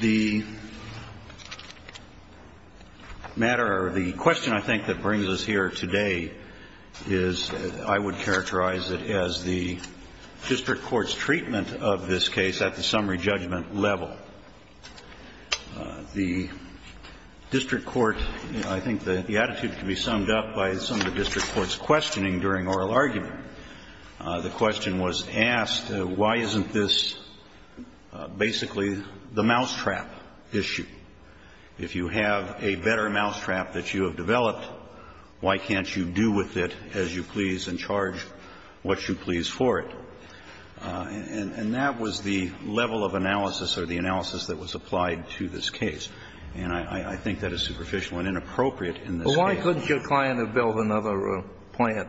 The matter or the question I think that brings us here today is, I would characterize it as the District Court's treatment of this case at the summary judgment level. The District Court, I think the attitude can be summed up by some of the District Court's questioning during oral argument. The question was asked, why isn't this basically the mousetrap issue? If you have a better mousetrap that you have developed, why can't you do with it as you please and charge what you please for it? And that was the level of analysis or the analysis that was applied to this case. And I think that is superficial and inappropriate in this case. Why couldn't your client have built another plant?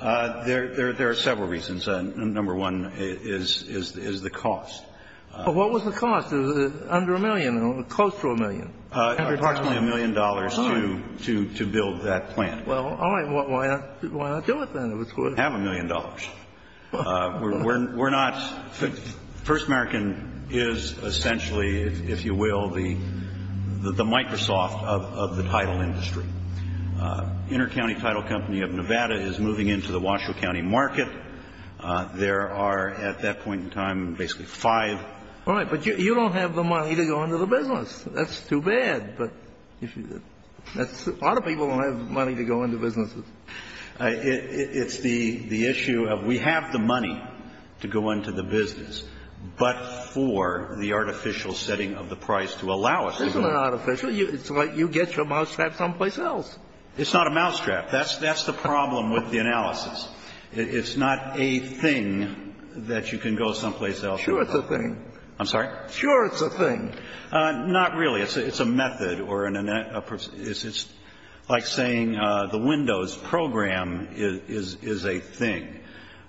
There are several reasons. Number one is the cost. What was the cost? Was it under a million, close to a million? Approximately a million dollars to build that plant. Well, all right. Why not do it then? Have a million dollars. We're not — First American is essentially, if you will, the Microsoft of the title industry. Intercounty Title Company of Nevada is moving into the Washoe County market. There are, at that point in time, basically five. All right. But you don't have the money to go into the business. That's too bad. But a lot of people don't have money to go into businesses. It's the issue of we have the money to go into the business, but for the artificial setting of the price to allow us to go. Isn't it artificial? It's like you get your mousetrap someplace else. It's not a mousetrap. That's the problem with the analysis. It's not a thing that you can go someplace else. Sure, it's a thing. I'm sorry? Sure, it's a thing. Not really. It's a method or an — it's like saying the windows. Windows program is a thing.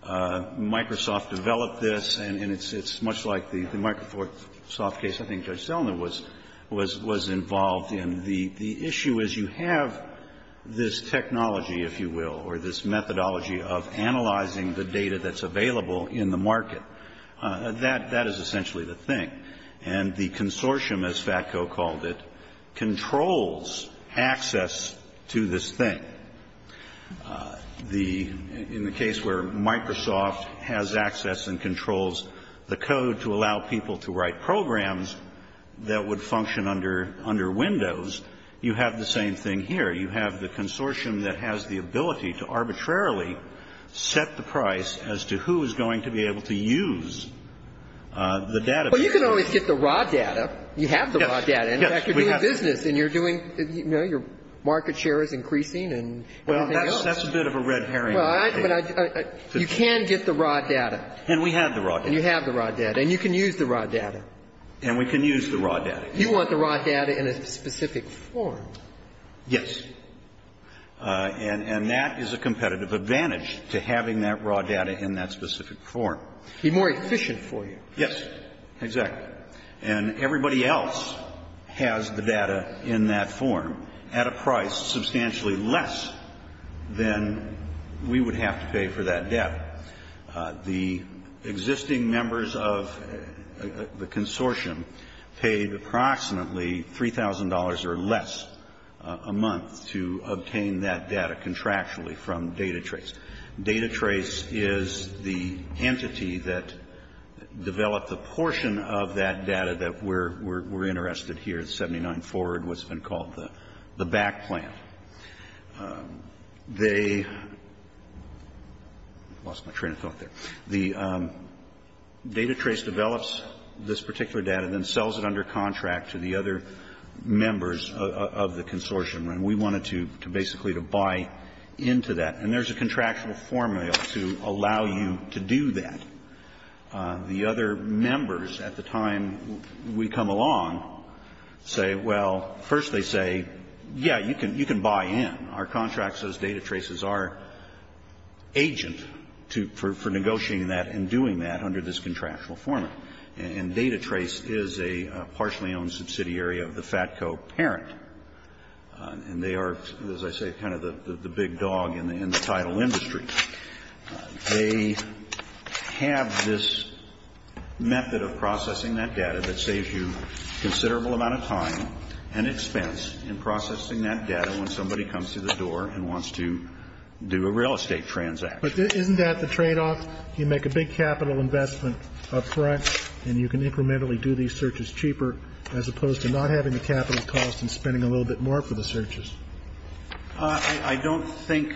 Microsoft developed this, and it's much like the Microsoft case. I think Judge Selna was involved in. The issue is you have this technology, if you will, or this methodology of analyzing the data that's available in the market. That is essentially the thing. And the consortium, as FATCO called it, controls access to this thing. The — in the case where Microsoft has access and controls the code to allow people to write programs that would function under Windows, you have the same thing here. You have the consortium that has the ability to arbitrarily set the price as to who is going to be able to use the database. Well, you can always get the raw data. You have the raw data. In fact, you're doing business and you're doing, you know, your market share is increasing and everything else. Well, that's a bit of a red herring. Well, I — you can get the raw data. And we have the raw data. And you have the raw data. And you can use the raw data. And we can use the raw data. You want the raw data in a specific form. Yes. And that is a competitive advantage to having that raw data in that specific form. Be more efficient for you. Yes. Exactly. And everybody else has the data in that form at a price substantially less than we would have to pay for that data. The existing members of the consortium paid approximately $3,000 or less a month to obtain that data contractually from DataTrace. DataTrace is the entity that developed the portion of that data that we're interested here, the 79 forward, what's been called the back plan. They — I lost my train of thought there. The — DataTrace develops this particular data and then sells it under contract to the other members of the consortium. And we wanted to basically to buy into that. And there's a contractual formula to allow you to do that. The other members at the time we come along say, well, first they say, yeah, you can buy in. Our contracts as DataTraces are agent for negotiating that and doing that under this contractual formula. And DataTrace is a partially owned subsidiary of the FATCO parent. And they are, as I say, kind of the big dog in the title industry. They have this method of processing that data that saves you a considerable amount of time and expense in processing that data when somebody comes through the door and wants to do a real estate transaction. But isn't that the tradeoff? You make a big capital investment up front and you can incrementally do these searches cheaper as opposed to not having the capital cost and spending a little bit more for the searches. I don't think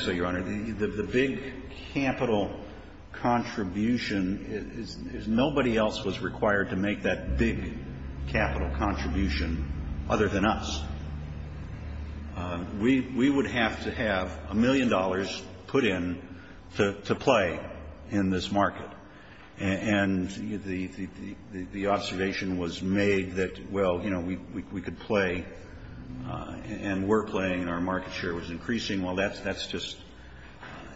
so, Your Honor. The big capital contribution is nobody else was required to make that big capital contribution other than us. We would have to have a million dollars put in to play in this market. And the observation was made that, well, you know, we could play and we're playing and our market share was increasing. Well, that's just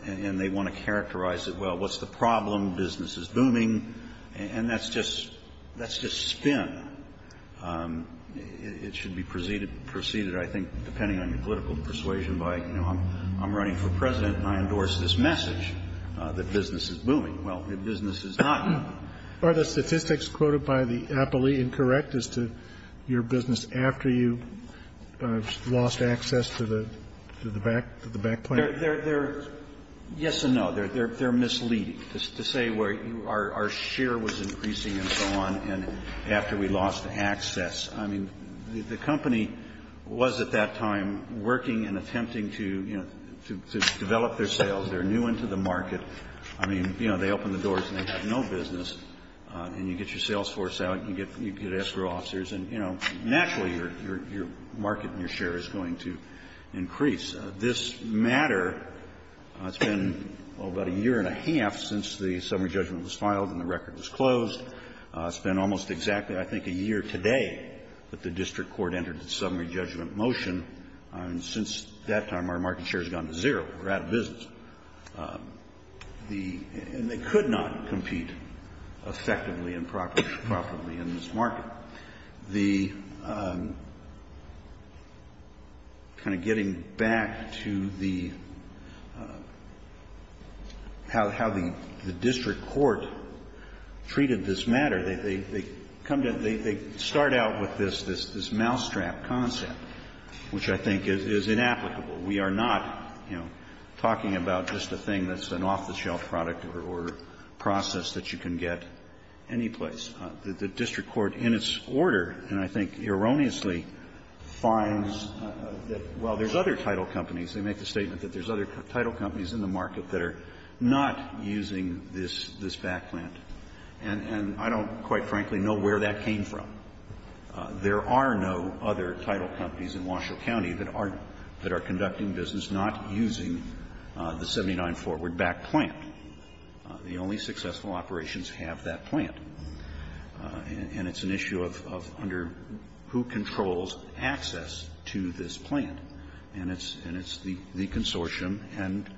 and they want to characterize it. Well, what's the problem? Business is booming. And that's just spin. It should be preceded, I think, depending on your political persuasion by, you know, I'm running for President and I endorse this message that business is booming. Well, business is not booming. Are the statistics quoted by the appellee incorrect as to your business after you lost access to the back plan? They're yes and no. They're misleading. To say where our share was increasing and so on and after we lost access. I mean, the company was at that time working and attempting to, you know, to develop their sales. They're new into the market. I mean, you know, they open the doors and they have no business. And you get your sales force out and you get escrow officers and, you know, naturally your market and your share is going to increase. This matter, it's been about a year and a half since the summary judgment was filed and the record was closed. It's been almost exactly, I think, a year today that the district court entered a summary judgment motion. And since that time, our market share has gone to zero. We're out of business. The ñ and they could not compete effectively and properly in this market. The ñ kind of getting back to the ñ how the district court treated this matter, they come to ñ they start out with this mousetrap concept, which I think is inapplicable. We are not, you know, talking about just a thing that's an off-the-shelf product or process that you can get anyplace. The district court, in its order, and I think erroneously, finds that while there's other title companies, they make the statement that there's other title companies in the market that are not using this ñ this back plant. And I don't, quite frankly, know where that came from. There are no other title companies in Washoe County that are ñ that are conducting business not using the 79 Forward Back plant. The only successful operations have that plant. And it's an issue of under who controls access to this plant. And it's ñ and it's the consortium and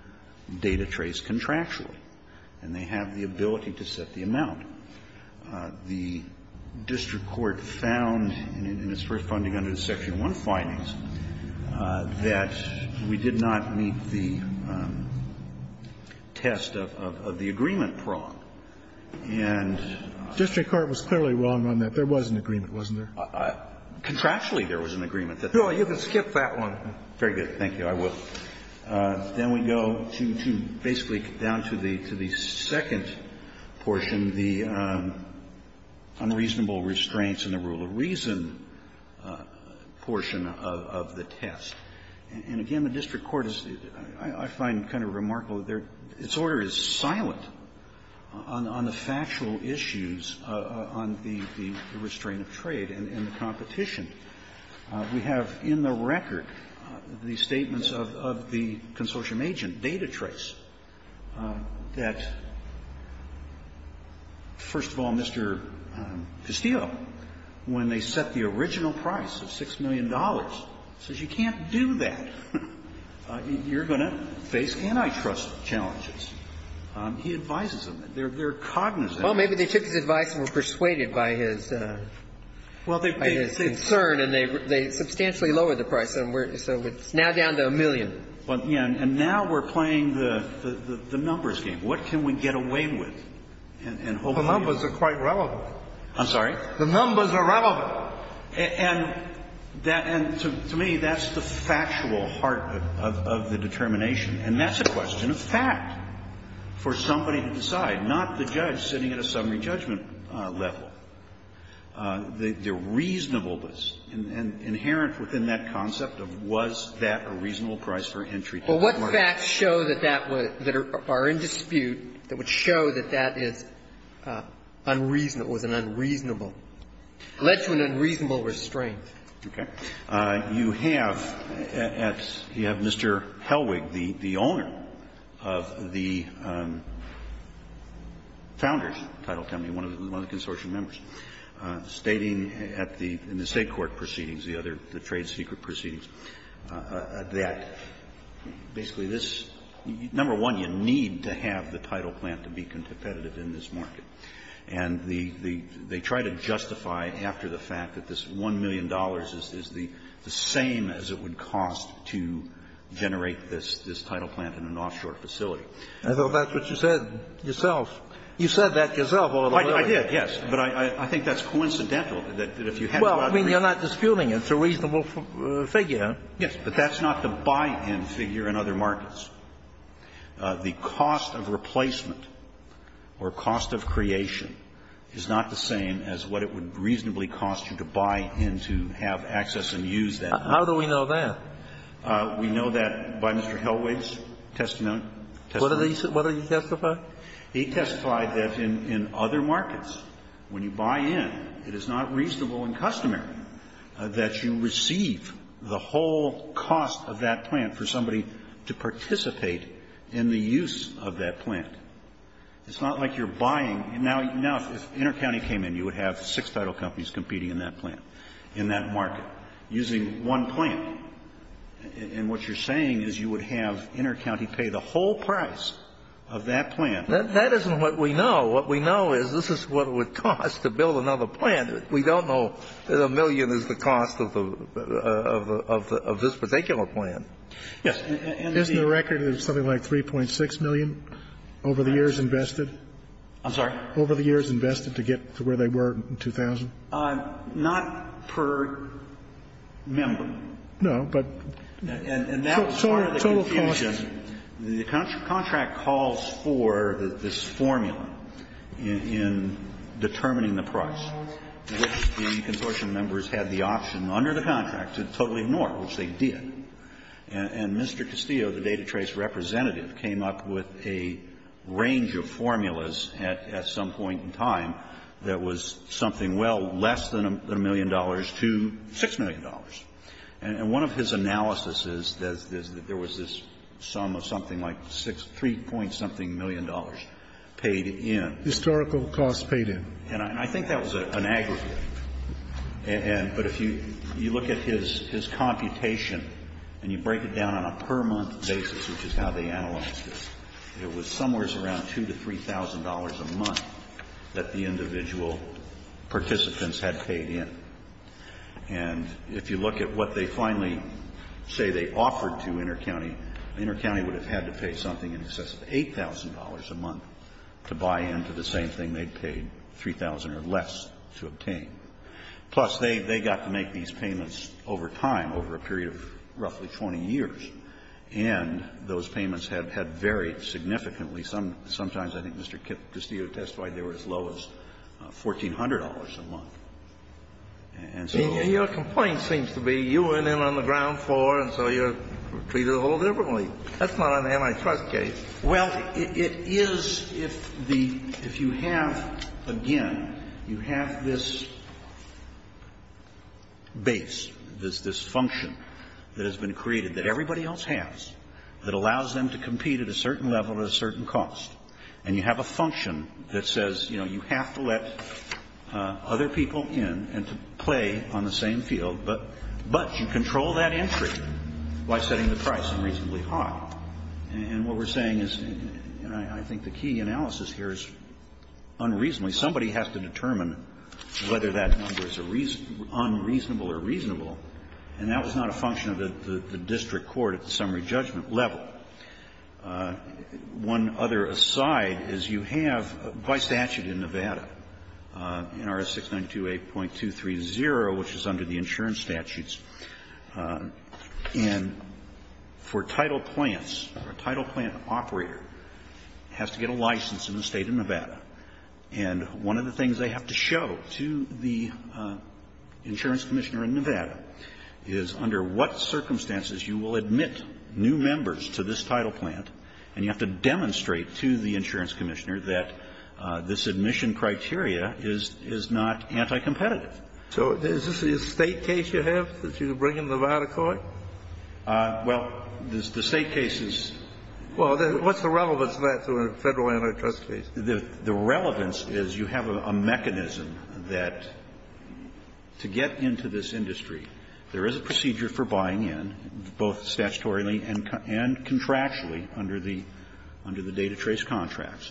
DataTrace contractually. And they have the ability to set the amount. The district court found in its first funding under the Section 1 findings that we did not meet the test of ñ of the agreement prong. And ñ District court was clearly wrong on that. There was an agreement, wasn't there? Contractually, there was an agreement that ñ No, you can skip that one. Very good. I will. Then we go to basically down to the ñ to the second portion, the unreasonable restraints and the rule of reason portion of the test. And again, the district court is ñ I find kind of remarkable that their ñ its order is silent on the factual issues on the ñ the restraint of trade and the competition. We have in the record the statements of the consortium agent, DataTrace, that, first of all, Mr. Castillo, when they set the original price of $6 million, says you can't do that. You're going to face antitrust challenges. He advises them. They're cognizant. Well, maybe they took his advice and were persuaded by his ñ by his concern. And they substantially lowered the price. So it's now down to a million. And now we're playing the numbers game. What can we get away with? The numbers are quite relevant. I'm sorry? The numbers are relevant. And to me, that's the factual heart of the determination. And that's a question of fact for somebody to decide, not the judge sitting at a summary judgment level. But the reasonableness inherent within that concept of was that a reasonable price for entry to the market. But what facts show that that was ñ that are in dispute that would show that that is unreasonable ñ was an unreasonable ñ led to an unreasonable restraint? Okay. You have at ñ you have Mr. Hellwig, the owner of the Founders Title Company, one of the consortium members, stating at the ñ in the State court proceedings, the other ñ the trade secret proceedings, that basically this ñ number one, you need to have the title plant to be competitive in this market. And the ñ they try to justify after the fact that this $1 million is the same as it would cost to generate this ñ this title plant in an offshore facility. I thought that's what you said yourself. You said that yourself a little earlier. I did, yes. But I think that's coincidental, that if you had ñ Well, I mean, you're not disputing it. It's a reasonable figure. Yes. But that's not the buy-in figure in other markets. The cost of replacement or cost of creation is not the same as what it would reasonably cost you to buy in to have access and use that ñ How do we know that? We know that by Mr. Hellwig's testimony. What did he say? What did he testify? He testified that in other markets, when you buy in, it is not reasonable and customary that you receive the whole cost of that plant for somebody to participate in the use of that plant. It's not like you're buying ñ now, if InterCounty came in, you would have six title companies competing in that plant, in that market, using one plant. And what you're saying is you would have InterCounty pay the whole price of that plant. That isn't what we know. What we know is this is what it would cost to build another plant. We don't know that a million is the cost of the ñ of this particular plant. Yes. Isn't the record of something like 3.6 million over the years invested? I'm sorry? Over the years invested to get to where they were in 2000? Not per member. No, but total cost. And that was part of the confusion. The contract calls for this formula in determining the price, which the consortium members had the option under the contract to totally ignore, which they did. And Mr. Castillo, the data trace representative, came up with a range of formulas at some point in time that was something, well, less than a million dollars to 6 million dollars. And one of his analyses is that there was this sum of something like 3 point something million dollars paid in. Historical cost paid in. And I think that was an aggregate. But if you look at his computation and you break it down on a per month basis, which is how they analyzed this, it was somewhere around 2 to 3 thousand dollars a month that the individual participants had paid in. And if you look at what they finally say they offered to InterCounty, InterCounty would have had to pay something in excess of 8 thousand dollars a month to buy into the same thing they'd paid 3 thousand or less to obtain. Plus, they got to make these payments over time, over a period of roughly 20 years. And those payments had varied significantly. Sometimes, I think Mr. Castillo testified, they were as low as $1,400 a month. And so there was a difference. Kennedy, your complaint seems to be you went in on the ground floor and so you're treated a little differently. That's not an antitrust case. Well, it is if the, if you have, again, you have this base, this function that has been created that everybody else has that allows them to compete at a certain level at a certain cost. And you have a function that says, you know, you have to let other people in and to play on the same field, but you control that entry by setting the price unreasonably And what we're saying is, you know, I think the key analysis here is unreasonably somebody has to determine whether that number is unreasonable or reasonable, and that was not a function of the district court at the summary judgment level. One other aside is you have by statute in Nevada, NRS 692a.230, which is under the title plant operator, has to get a license in the State of Nevada. And one of the things they have to show to the insurance commissioner in Nevada is under what circumstances you will admit new members to this title plant, and you have to demonstrate to the insurance commissioner that this admission criteria is not anti-competitive. So is this a State case you have that you bring into Nevada court? Well, the State case is What's the relevance of that to a Federal antitrust case? The relevance is you have a mechanism that to get into this industry, there is a procedure for buying in, both statutorily and contractually under the data trace contracts.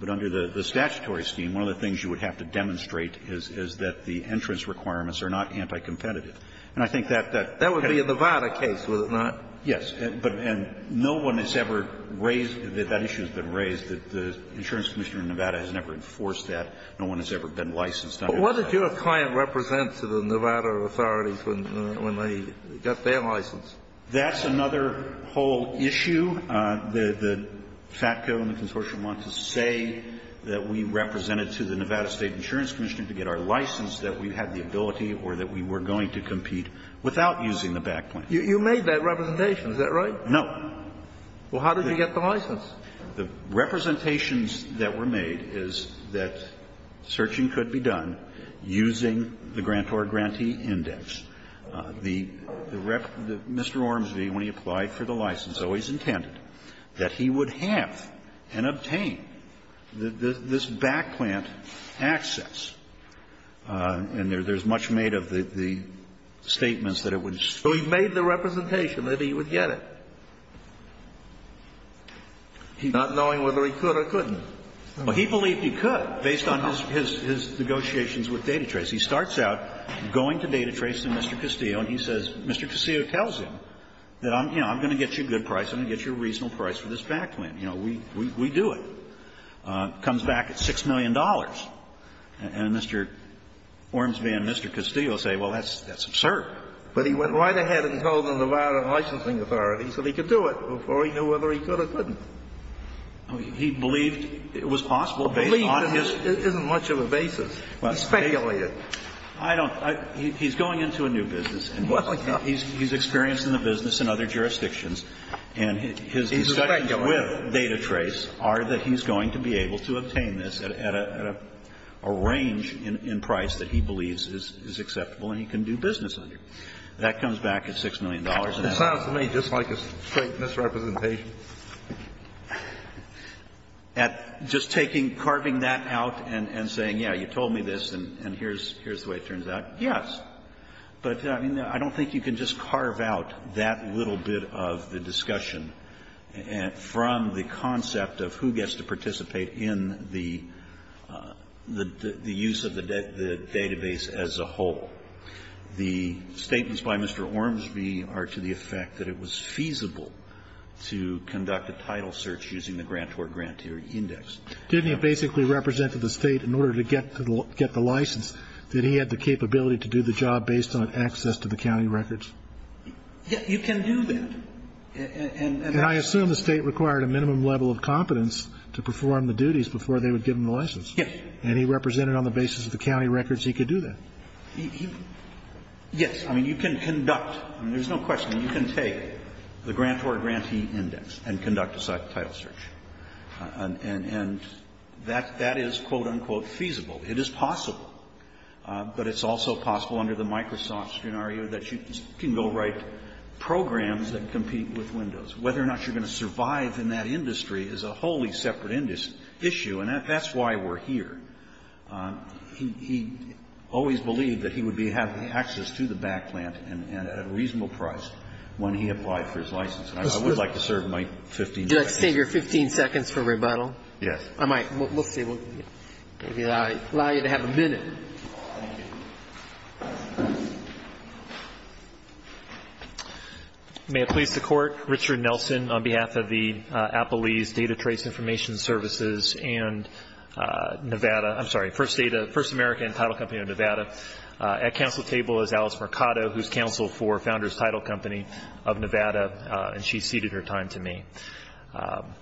But under the statutory scheme, one of the things you would have to demonstrate is that the entrance requirements are not anti-competitive. And I think that the That would be a Nevada case, would it not? Yes. And no one has ever raised that that issue has been raised. The insurance commissioner in Nevada has never enforced that. No one has ever been licensed under that. But what did your client represent to the Nevada authorities when they got their license? That's another whole issue. The FATCO and the consortium want to say that we represented to the Nevada State insurance commissioner to get our license, that we had the ability or that we were going to compete without using the back plan. You made that representation, is that right? No. Well, how did you get the license? The representations that were made is that searching could be done using the grant or grantee index. The Mr. Ormsby, when he applied for the license, always intended that he would have and obtain this back plan access. And there's much made of the statements that it would. So he made the representation that he would get it, not knowing whether he could or couldn't. Well, he believed he could based on his negotiations with DataTrace. He starts out going to DataTrace and Mr. Castillo, and he says, Mr. Castillo tells him that, you know, I'm going to get you a good price, I'm going to get you a good deal. We do it. Comes back at $6 million. And Mr. Ormsby and Mr. Castillo say, well, that's absurd. But he went right ahead and told the Nevada Licensing Authority that he could do it before he knew whether he could or couldn't. He believed it was possible based on his... Believed isn't much of a basis. He speculated. I don't. He's going into a new business. He's experiencing the business in other jurisdictions, and his discussions with DataTrace are that he's going to be able to obtain this at a range in price that he believes is acceptable and he can do business under. That comes back at $6 million. It sounds to me just like a straight misrepresentation. At just taking, carving that out and saying, yeah, you told me this and here's the way it turns out, yes. But, I mean, I don't think you can just carve out that little bit of the discussion from the concept of who gets to participate in the use of the database as a whole. The statements by Mr. Ormsby are to the effect that it was feasible to conduct a title search using the grantor-grantee index. Didn't he basically represent to the State in order to get the license that he had the capability to do the job based on access to the county records? Yes. You can do that. And I assume the State required a minimum level of competence to perform the duties before they would give him the license. Yes. And he represented on the basis of the county records he could do that. Yes. I mean, you can conduct. I mean, there's no question. You can take the grantor-grantee index and conduct a title search. And that is, quote, unquote, feasible. It is possible. But it's also possible under the Microsoft scenario that you can go write programs that compete with Windows. Whether or not you're going to survive in that industry is a wholly separate issue. And that's why we're here. He always believed that he would be having access to the back plant at a reasonable price when he applied for his license. And I would like to serve my 15 seconds. Do you like to save your 15 seconds for rebuttal? Yes. All right. We'll allow you to have a minute. Thank you. May it please the Court. Richard Nelson on behalf of the Applebee's Data Trace Information Services and Nevada, I'm sorry, First Data, First American Title Company of Nevada. At counsel's table is Alice Mercado, who's counsel for Founders Title Company of Nevada. And she ceded her time to me.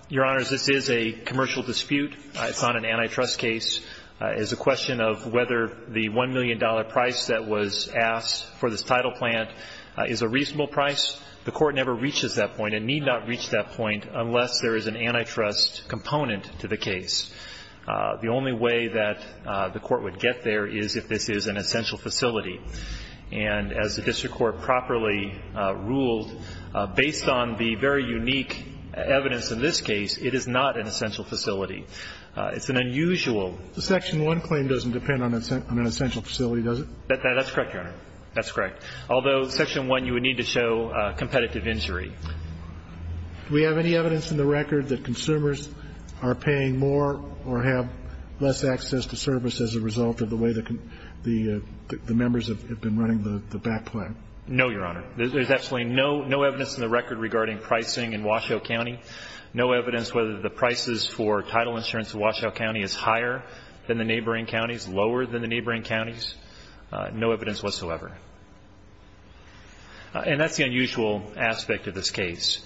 Your Honors, this is a commercial dispute. It's not an antitrust case. It's a question of whether the $1 million price that was asked for this title plant is a reasonable price. The Court never reaches that point and need not reach that point unless there is an antitrust component to the case. The only way that the Court would get there is if this is an essential facility. And as the district court properly ruled, based on the very unique evidence in this case, it is not an essential facility. It's an unusual. The Section 1 claim doesn't depend on an essential facility, does it? That's correct, Your Honor. That's correct. Although, Section 1, you would need to show competitive injury. Do we have any evidence in the record that consumers are paying more or have less access to service as a result of the way the members have been running the back plant? No, Your Honor. There's absolutely no evidence in the record regarding pricing in Washoe County, no evidence whether the prices for title insurance in Washoe County is higher than the neighboring counties, lower than the neighboring counties, no evidence whatsoever. And that's the unusual aspect of this case,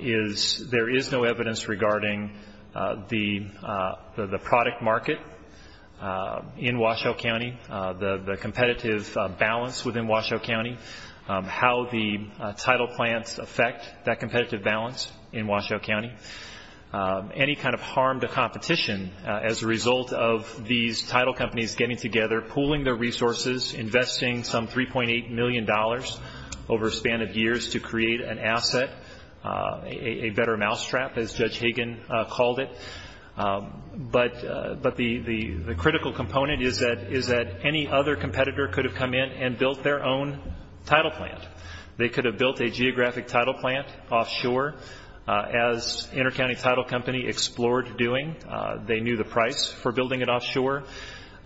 is there is no evidence regarding the product market in Washoe County, the competitive balance within Washoe County, how the title plants affect that competitive balance in Washoe County, any kind of harm to competition as a result of these title companies getting together, pooling their resources, investing some $3.8 million over a span of years to create an asset, a better mousetrap, as Judge Hagan called it. But the critical component is that any other competitor could have come in and built their own title plant. They could have built a geographic title plant offshore, as InterCounty Title Company explored doing. They knew the price for building it offshore.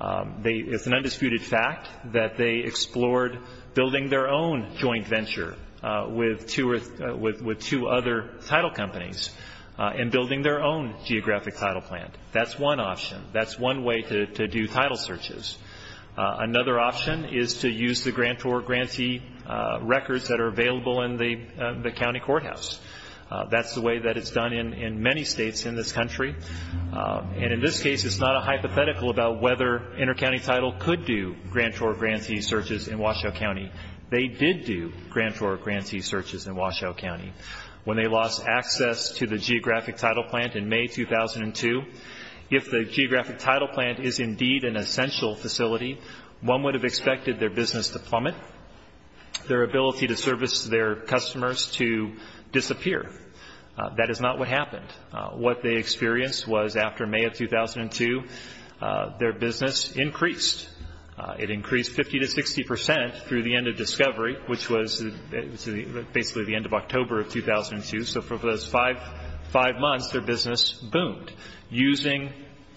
It's an undisputed fact that they explored building their own joint venture with two other title companies and building their own geographic title plant. That's one option. That's one way to do title searches. Another option is to use the grantor-grantee records that are available in the county courthouse. That's the way that it's done in many states in this country. In this case, it's not a hypothetical about whether InterCounty Title could do grantor-grantee searches in Washoe County. They did do grantor-grantee searches in Washoe County. When they lost access to the geographic title plant in May 2002, if the geographic title plant is indeed an essential facility, one would have expected their business to plummet, their ability to service their customers to disappear. That is not what happened. What they experienced was after May of 2002, their business increased. It increased 50 to 60 percent through the end of discovery, which was basically the end of October of 2002. So for those five months, their business boomed using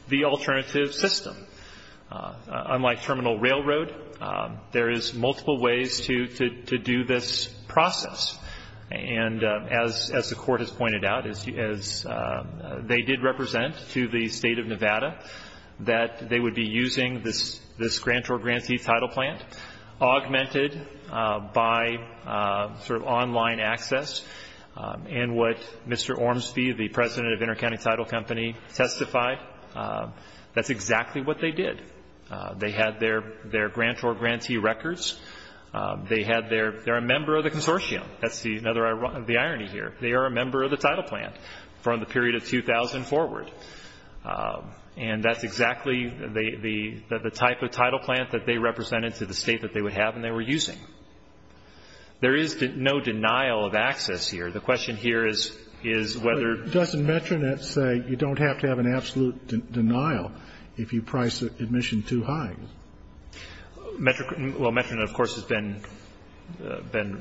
the alternative system. Unlike Terminal Railroad, there is multiple ways to do this process. As the Court has pointed out, they did represent to the State of Nevada that they would be using this grantor-grantee title plant, augmented by sort of online access, and what Mr. Ormsby, the president of InterCounty Title Company, testified. That's exactly what they did. They had their grantor-grantee records. They are a member of the consortium. That's the irony here. They are a member of the title plant from the period of 2000 forward, and that's exactly the type of title plant that they represented to the State that they would have and they were using. There is no denial of access here. The question here is whether ---- Doesn't Metronet say you don't have to have an absolute denial if you price admission too high? Well, Metronet, of course, has been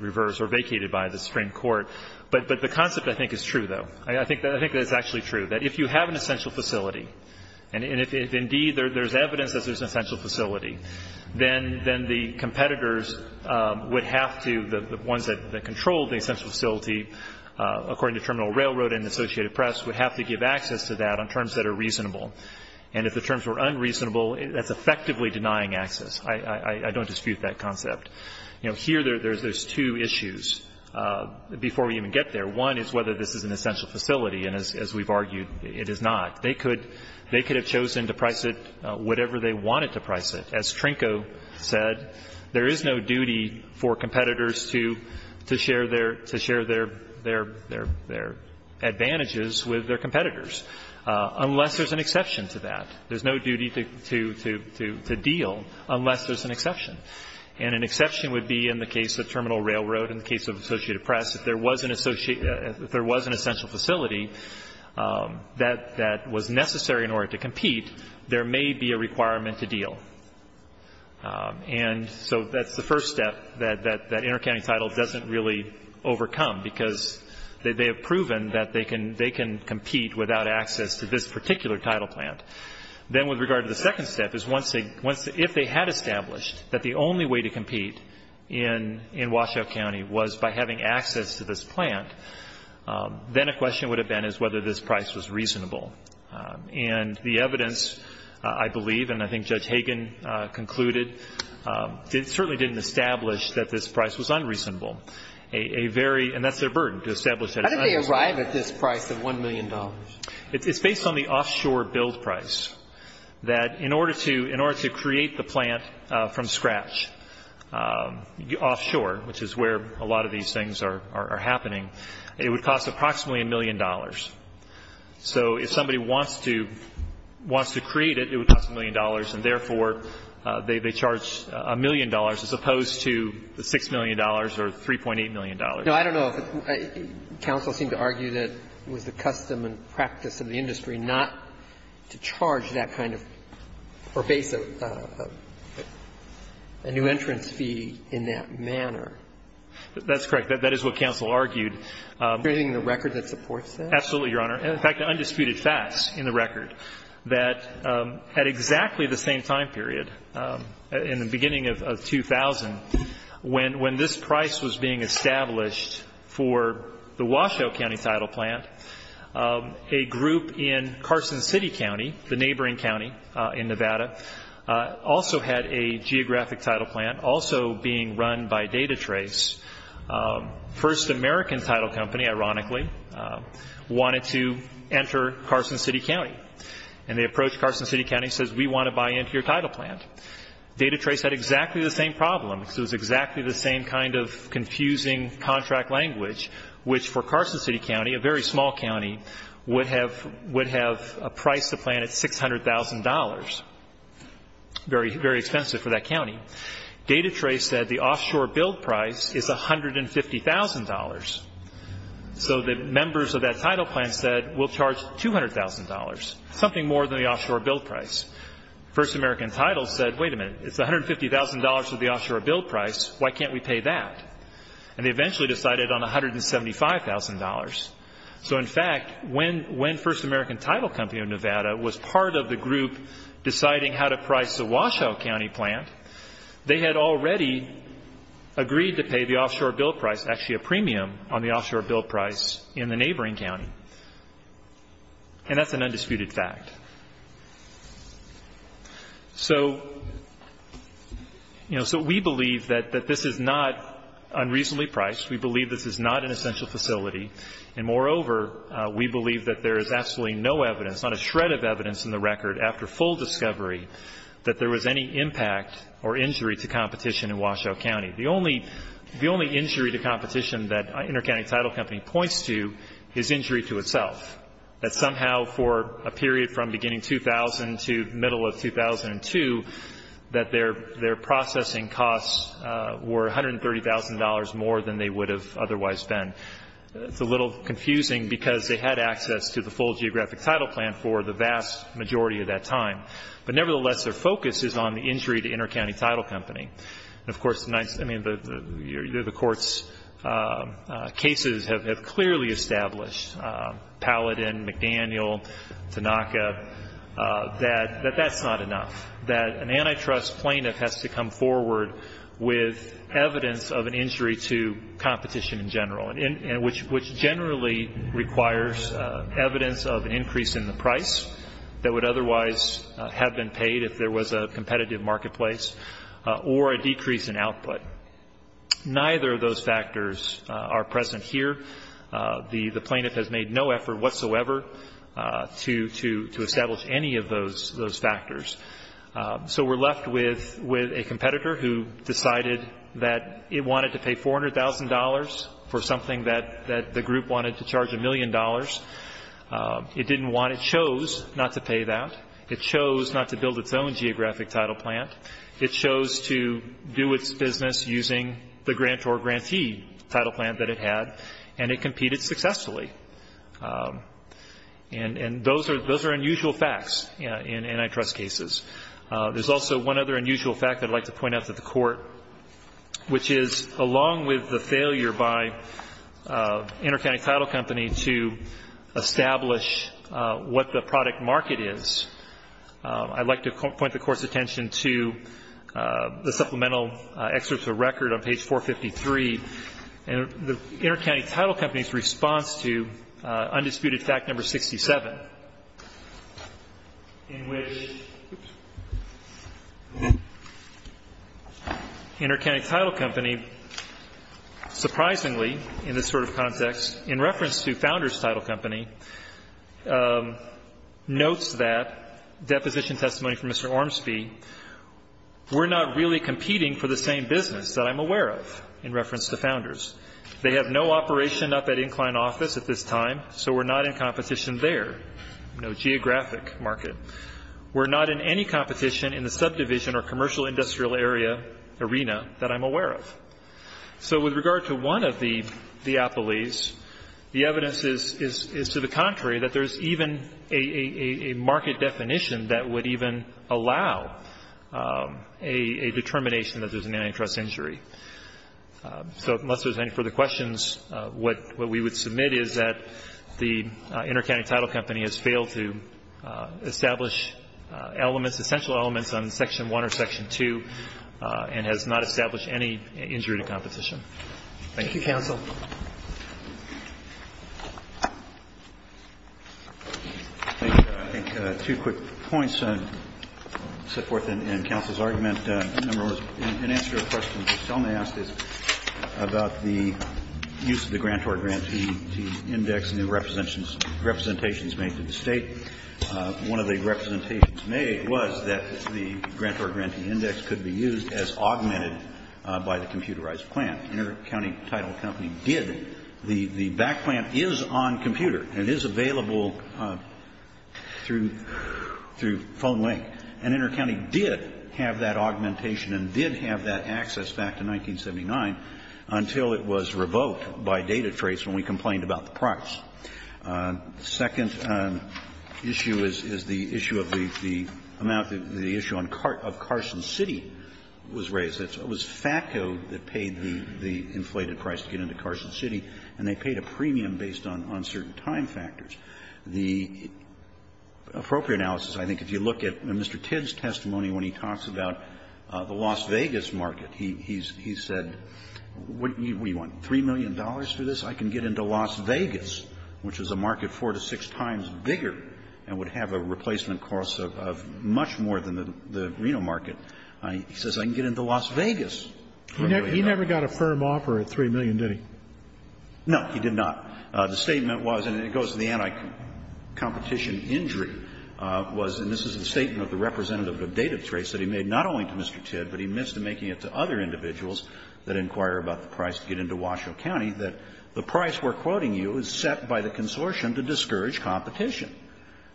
reversed or vacated by the Supreme Court, but the concept I think is true, though. I think that it's actually true, that if you have an essential facility, and if indeed there's evidence that there's an essential facility, then the competitors would have to, the ones that control the essential facility, according to Terminal Railroad and Associated Press, would have to give access to that on terms that are reasonable. And if the terms were unreasonable, that's effectively denying access. I don't dispute that concept. You know, here there's two issues before we even get there. One is whether this is an essential facility, and as we've argued, it is not. They could have chosen to price it whatever they wanted to price it. As Trinko said, there is no duty for competitors to share their advantages with their competitors, unless there's an exception to that. There's no duty to deal unless there's an exception. And an exception would be in the case of Terminal Railroad, in the case of Associated Press, if there was an essential facility that was necessary in order to compete, there may be a requirement to deal. And so that's the first step that Intercounty Title doesn't really overcome, because they have proven that they can compete without access to this particular title plant. Then with regard to the second step, is if they had established that the only way to compete in Washoe County was by having access to this plant, then a question would have been is whether this price was reasonable. And the evidence, I believe, and I think Judge Hagan concluded, certainly didn't establish that this price was unreasonable. And that's their burden, to establish that it's unreasonable. How did they arrive at this price of $1 million? It's based on the offshore build price, that in order to create the plant from scratch offshore, which is where a lot of these things are happening, it would cost approximately $1 million. So if somebody wants to create it, it would cost $1 million, and therefore, they charge $1 million as opposed to the $6 million or $3.8 million. Now, I don't know if counsel seemed to argue that it was the custom and practice of the industry not to charge that kind of pervasive new entrance fee in that manner. That's correct. That is what counsel argued. Is there anything in the record that supports that? Absolutely, Your Honor. In fact, there are undisputed facts in the record that at exactly the same time period, in the beginning of 2000, when this price was being established for the Washoe County title plant, a group in Carson City County, the neighboring county in Nevada, also had a geographic title plant, also being run by DataTrace, first American title company, ironically, wanted to enter Carson City County. And they approached Carson City County and said, we want to buy into your title plant. DataTrace had exactly the same problem. It was exactly the same kind of confusing contract language, which for Carson City County, a very small county, would have priced the plant at $600,000, very expensive for that county. DataTrace said the offshore build price is $150,000. So the members of that title plant said, we'll charge $200,000, something more than the offshore build price. First American title said, wait a minute, it's $150,000 for the offshore build price. Why can't we pay that? And they eventually decided on $175,000. So, in fact, when first American title company of Nevada was part of the group deciding how to price the Washoe County plant, they had already agreed to pay the offshore build price, actually a premium on the offshore build price in the neighboring county. And that's an undisputed fact. So, you know, so we believe that this is not unreasonably priced. We believe this is not an essential facility. And, moreover, we believe that there is absolutely no evidence, not a shred of evidence in the record after full discovery, that there was any impact or injury to competition in Washoe County. The only injury to competition that InterCounty Title Company points to is injury to itself, that somehow for a period from beginning 2000 to middle of 2002, that their processing costs were $130,000 more than they would have otherwise been. It's a little confusing because they had access to the full geographic title plan for the vast majority of that time. But, nevertheless, their focus is on the injury to InterCounty Title Company. And, of course, the court's cases have clearly established, Paladin, McDaniel, Tanaka, that that's not enough, that an antitrust plaintiff has to come forward with evidence of an injury to competition in general. And which generally requires evidence of an increase in the price that would otherwise have been paid if there was a competitive marketplace or a decrease in output. Neither of those factors are present here. The plaintiff has made no effort whatsoever to establish any of those factors. So we're left with a competitor who decided that it wanted to pay $400,000 for something that the group wanted to charge a million dollars. It didn't want, it chose not to pay that. It chose not to build its own geographic title plan. It chose to do its business using the grant or grantee title plan that it had. And it competed successfully. And those are unusual facts in antitrust cases. There's also one other unusual fact I'd like to point out to the court, which is along with the failure by InterCounty Title Company to establish what the product market is, I'd like to point the court's attention to the supplemental excerpt of the record on page 453. And InterCounty Title Company's response to undisputed fact number 67, in which InterCounty Title Company surprisingly, in this sort of context, in reference to Founders Title Company, notes that deposition testimony from Mr. Ormsby, we're not really competing for the same business that I'm aware of, in reference to Founders. They have no operation up at Incline Office at this time, so we're not in competition there. No geographic market. We're not in any competition in the subdivision or commercial industrial area arena that I'm aware of. So with regard to one of the appellees, the evidence is to the contrary, that there's even a market definition that would even allow a determination that there's an antitrust injury. So unless there's any further questions, what we would submit is that the InterCounty Title Company has failed to establish elements, essential elements on Section 1 or Section 2, and has not established any injury to competition. Thank you. Thank you, Counsel. I think two quick points set forth in Counsel's argument. Number one, in answer to a question that Selma asked is about the use of the grantor-grantee index and the representations made to the State. One of the representations made was that the grantor-grantee index could be used as augmented by the computerized plan. InterCounty Title Company did. The back plan is on computer. It is available through phone link. And InterCounty did have that augmentation and did have that access back to 1979 until it was revoked by DataTrace when we complained about the price. The second issue is the issue of the amount, the issue of Carson City was raised. It was FATCO that paid the inflated price to get into Carson City, and they paid a premium based on uncertain time factors. The appropriate analysis, I think, if you look at Mr. Tidd's testimony when he talks about the Las Vegas market, he said, what do you want, $3 million for this? I can get into Las Vegas, which is a market four to six times bigger and would have a replacement cost of much more than the Reno market. He says, I can get into Las Vegas. He never got a firm offer at $3 million, did he? No, he did not. The statement was, and it goes to the anticompetition injury, was, and this is the statement of the representative of DataTrace that he made not only to Mr. Tidd, but he missed making it to other individuals that inquire about the price to get into Washoe County, that the price we're quoting you is set by the consortium to discourage competition.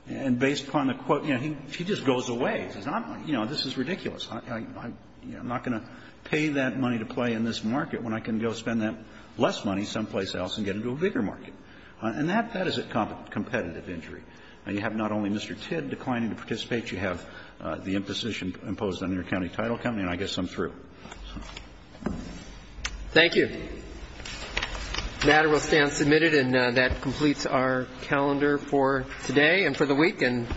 And based upon the quote, you know, he just goes away. He says, you know, this is ridiculous. I'm not going to pay that money to play in this market when I can go spend that less money someplace else and get into a bigger market. And that is a competitive injury. Now, you have not only Mr. Tidd declining to participate, you have the imposition imposed on your county title company, and I guess I'm through. Thank you. The matter will stand submitted, and that completes our calendar for today and for the week. And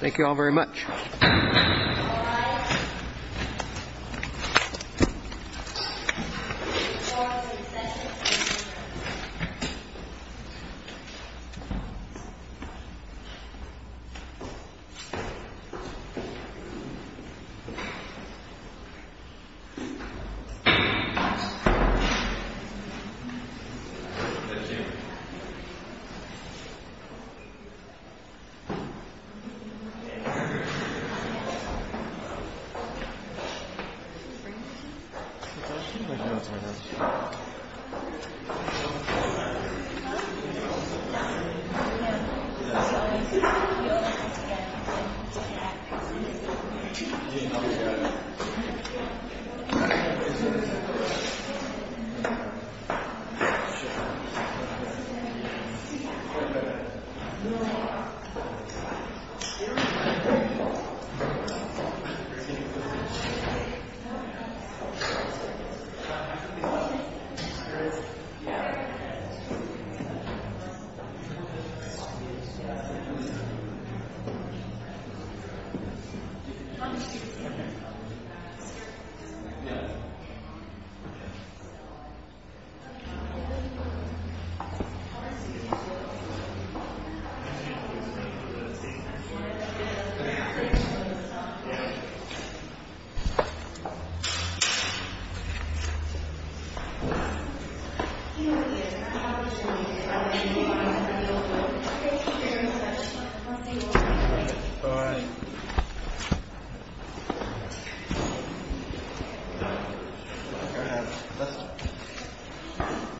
thank you all very much. Thank you. Thank you. Thank you. Thank you.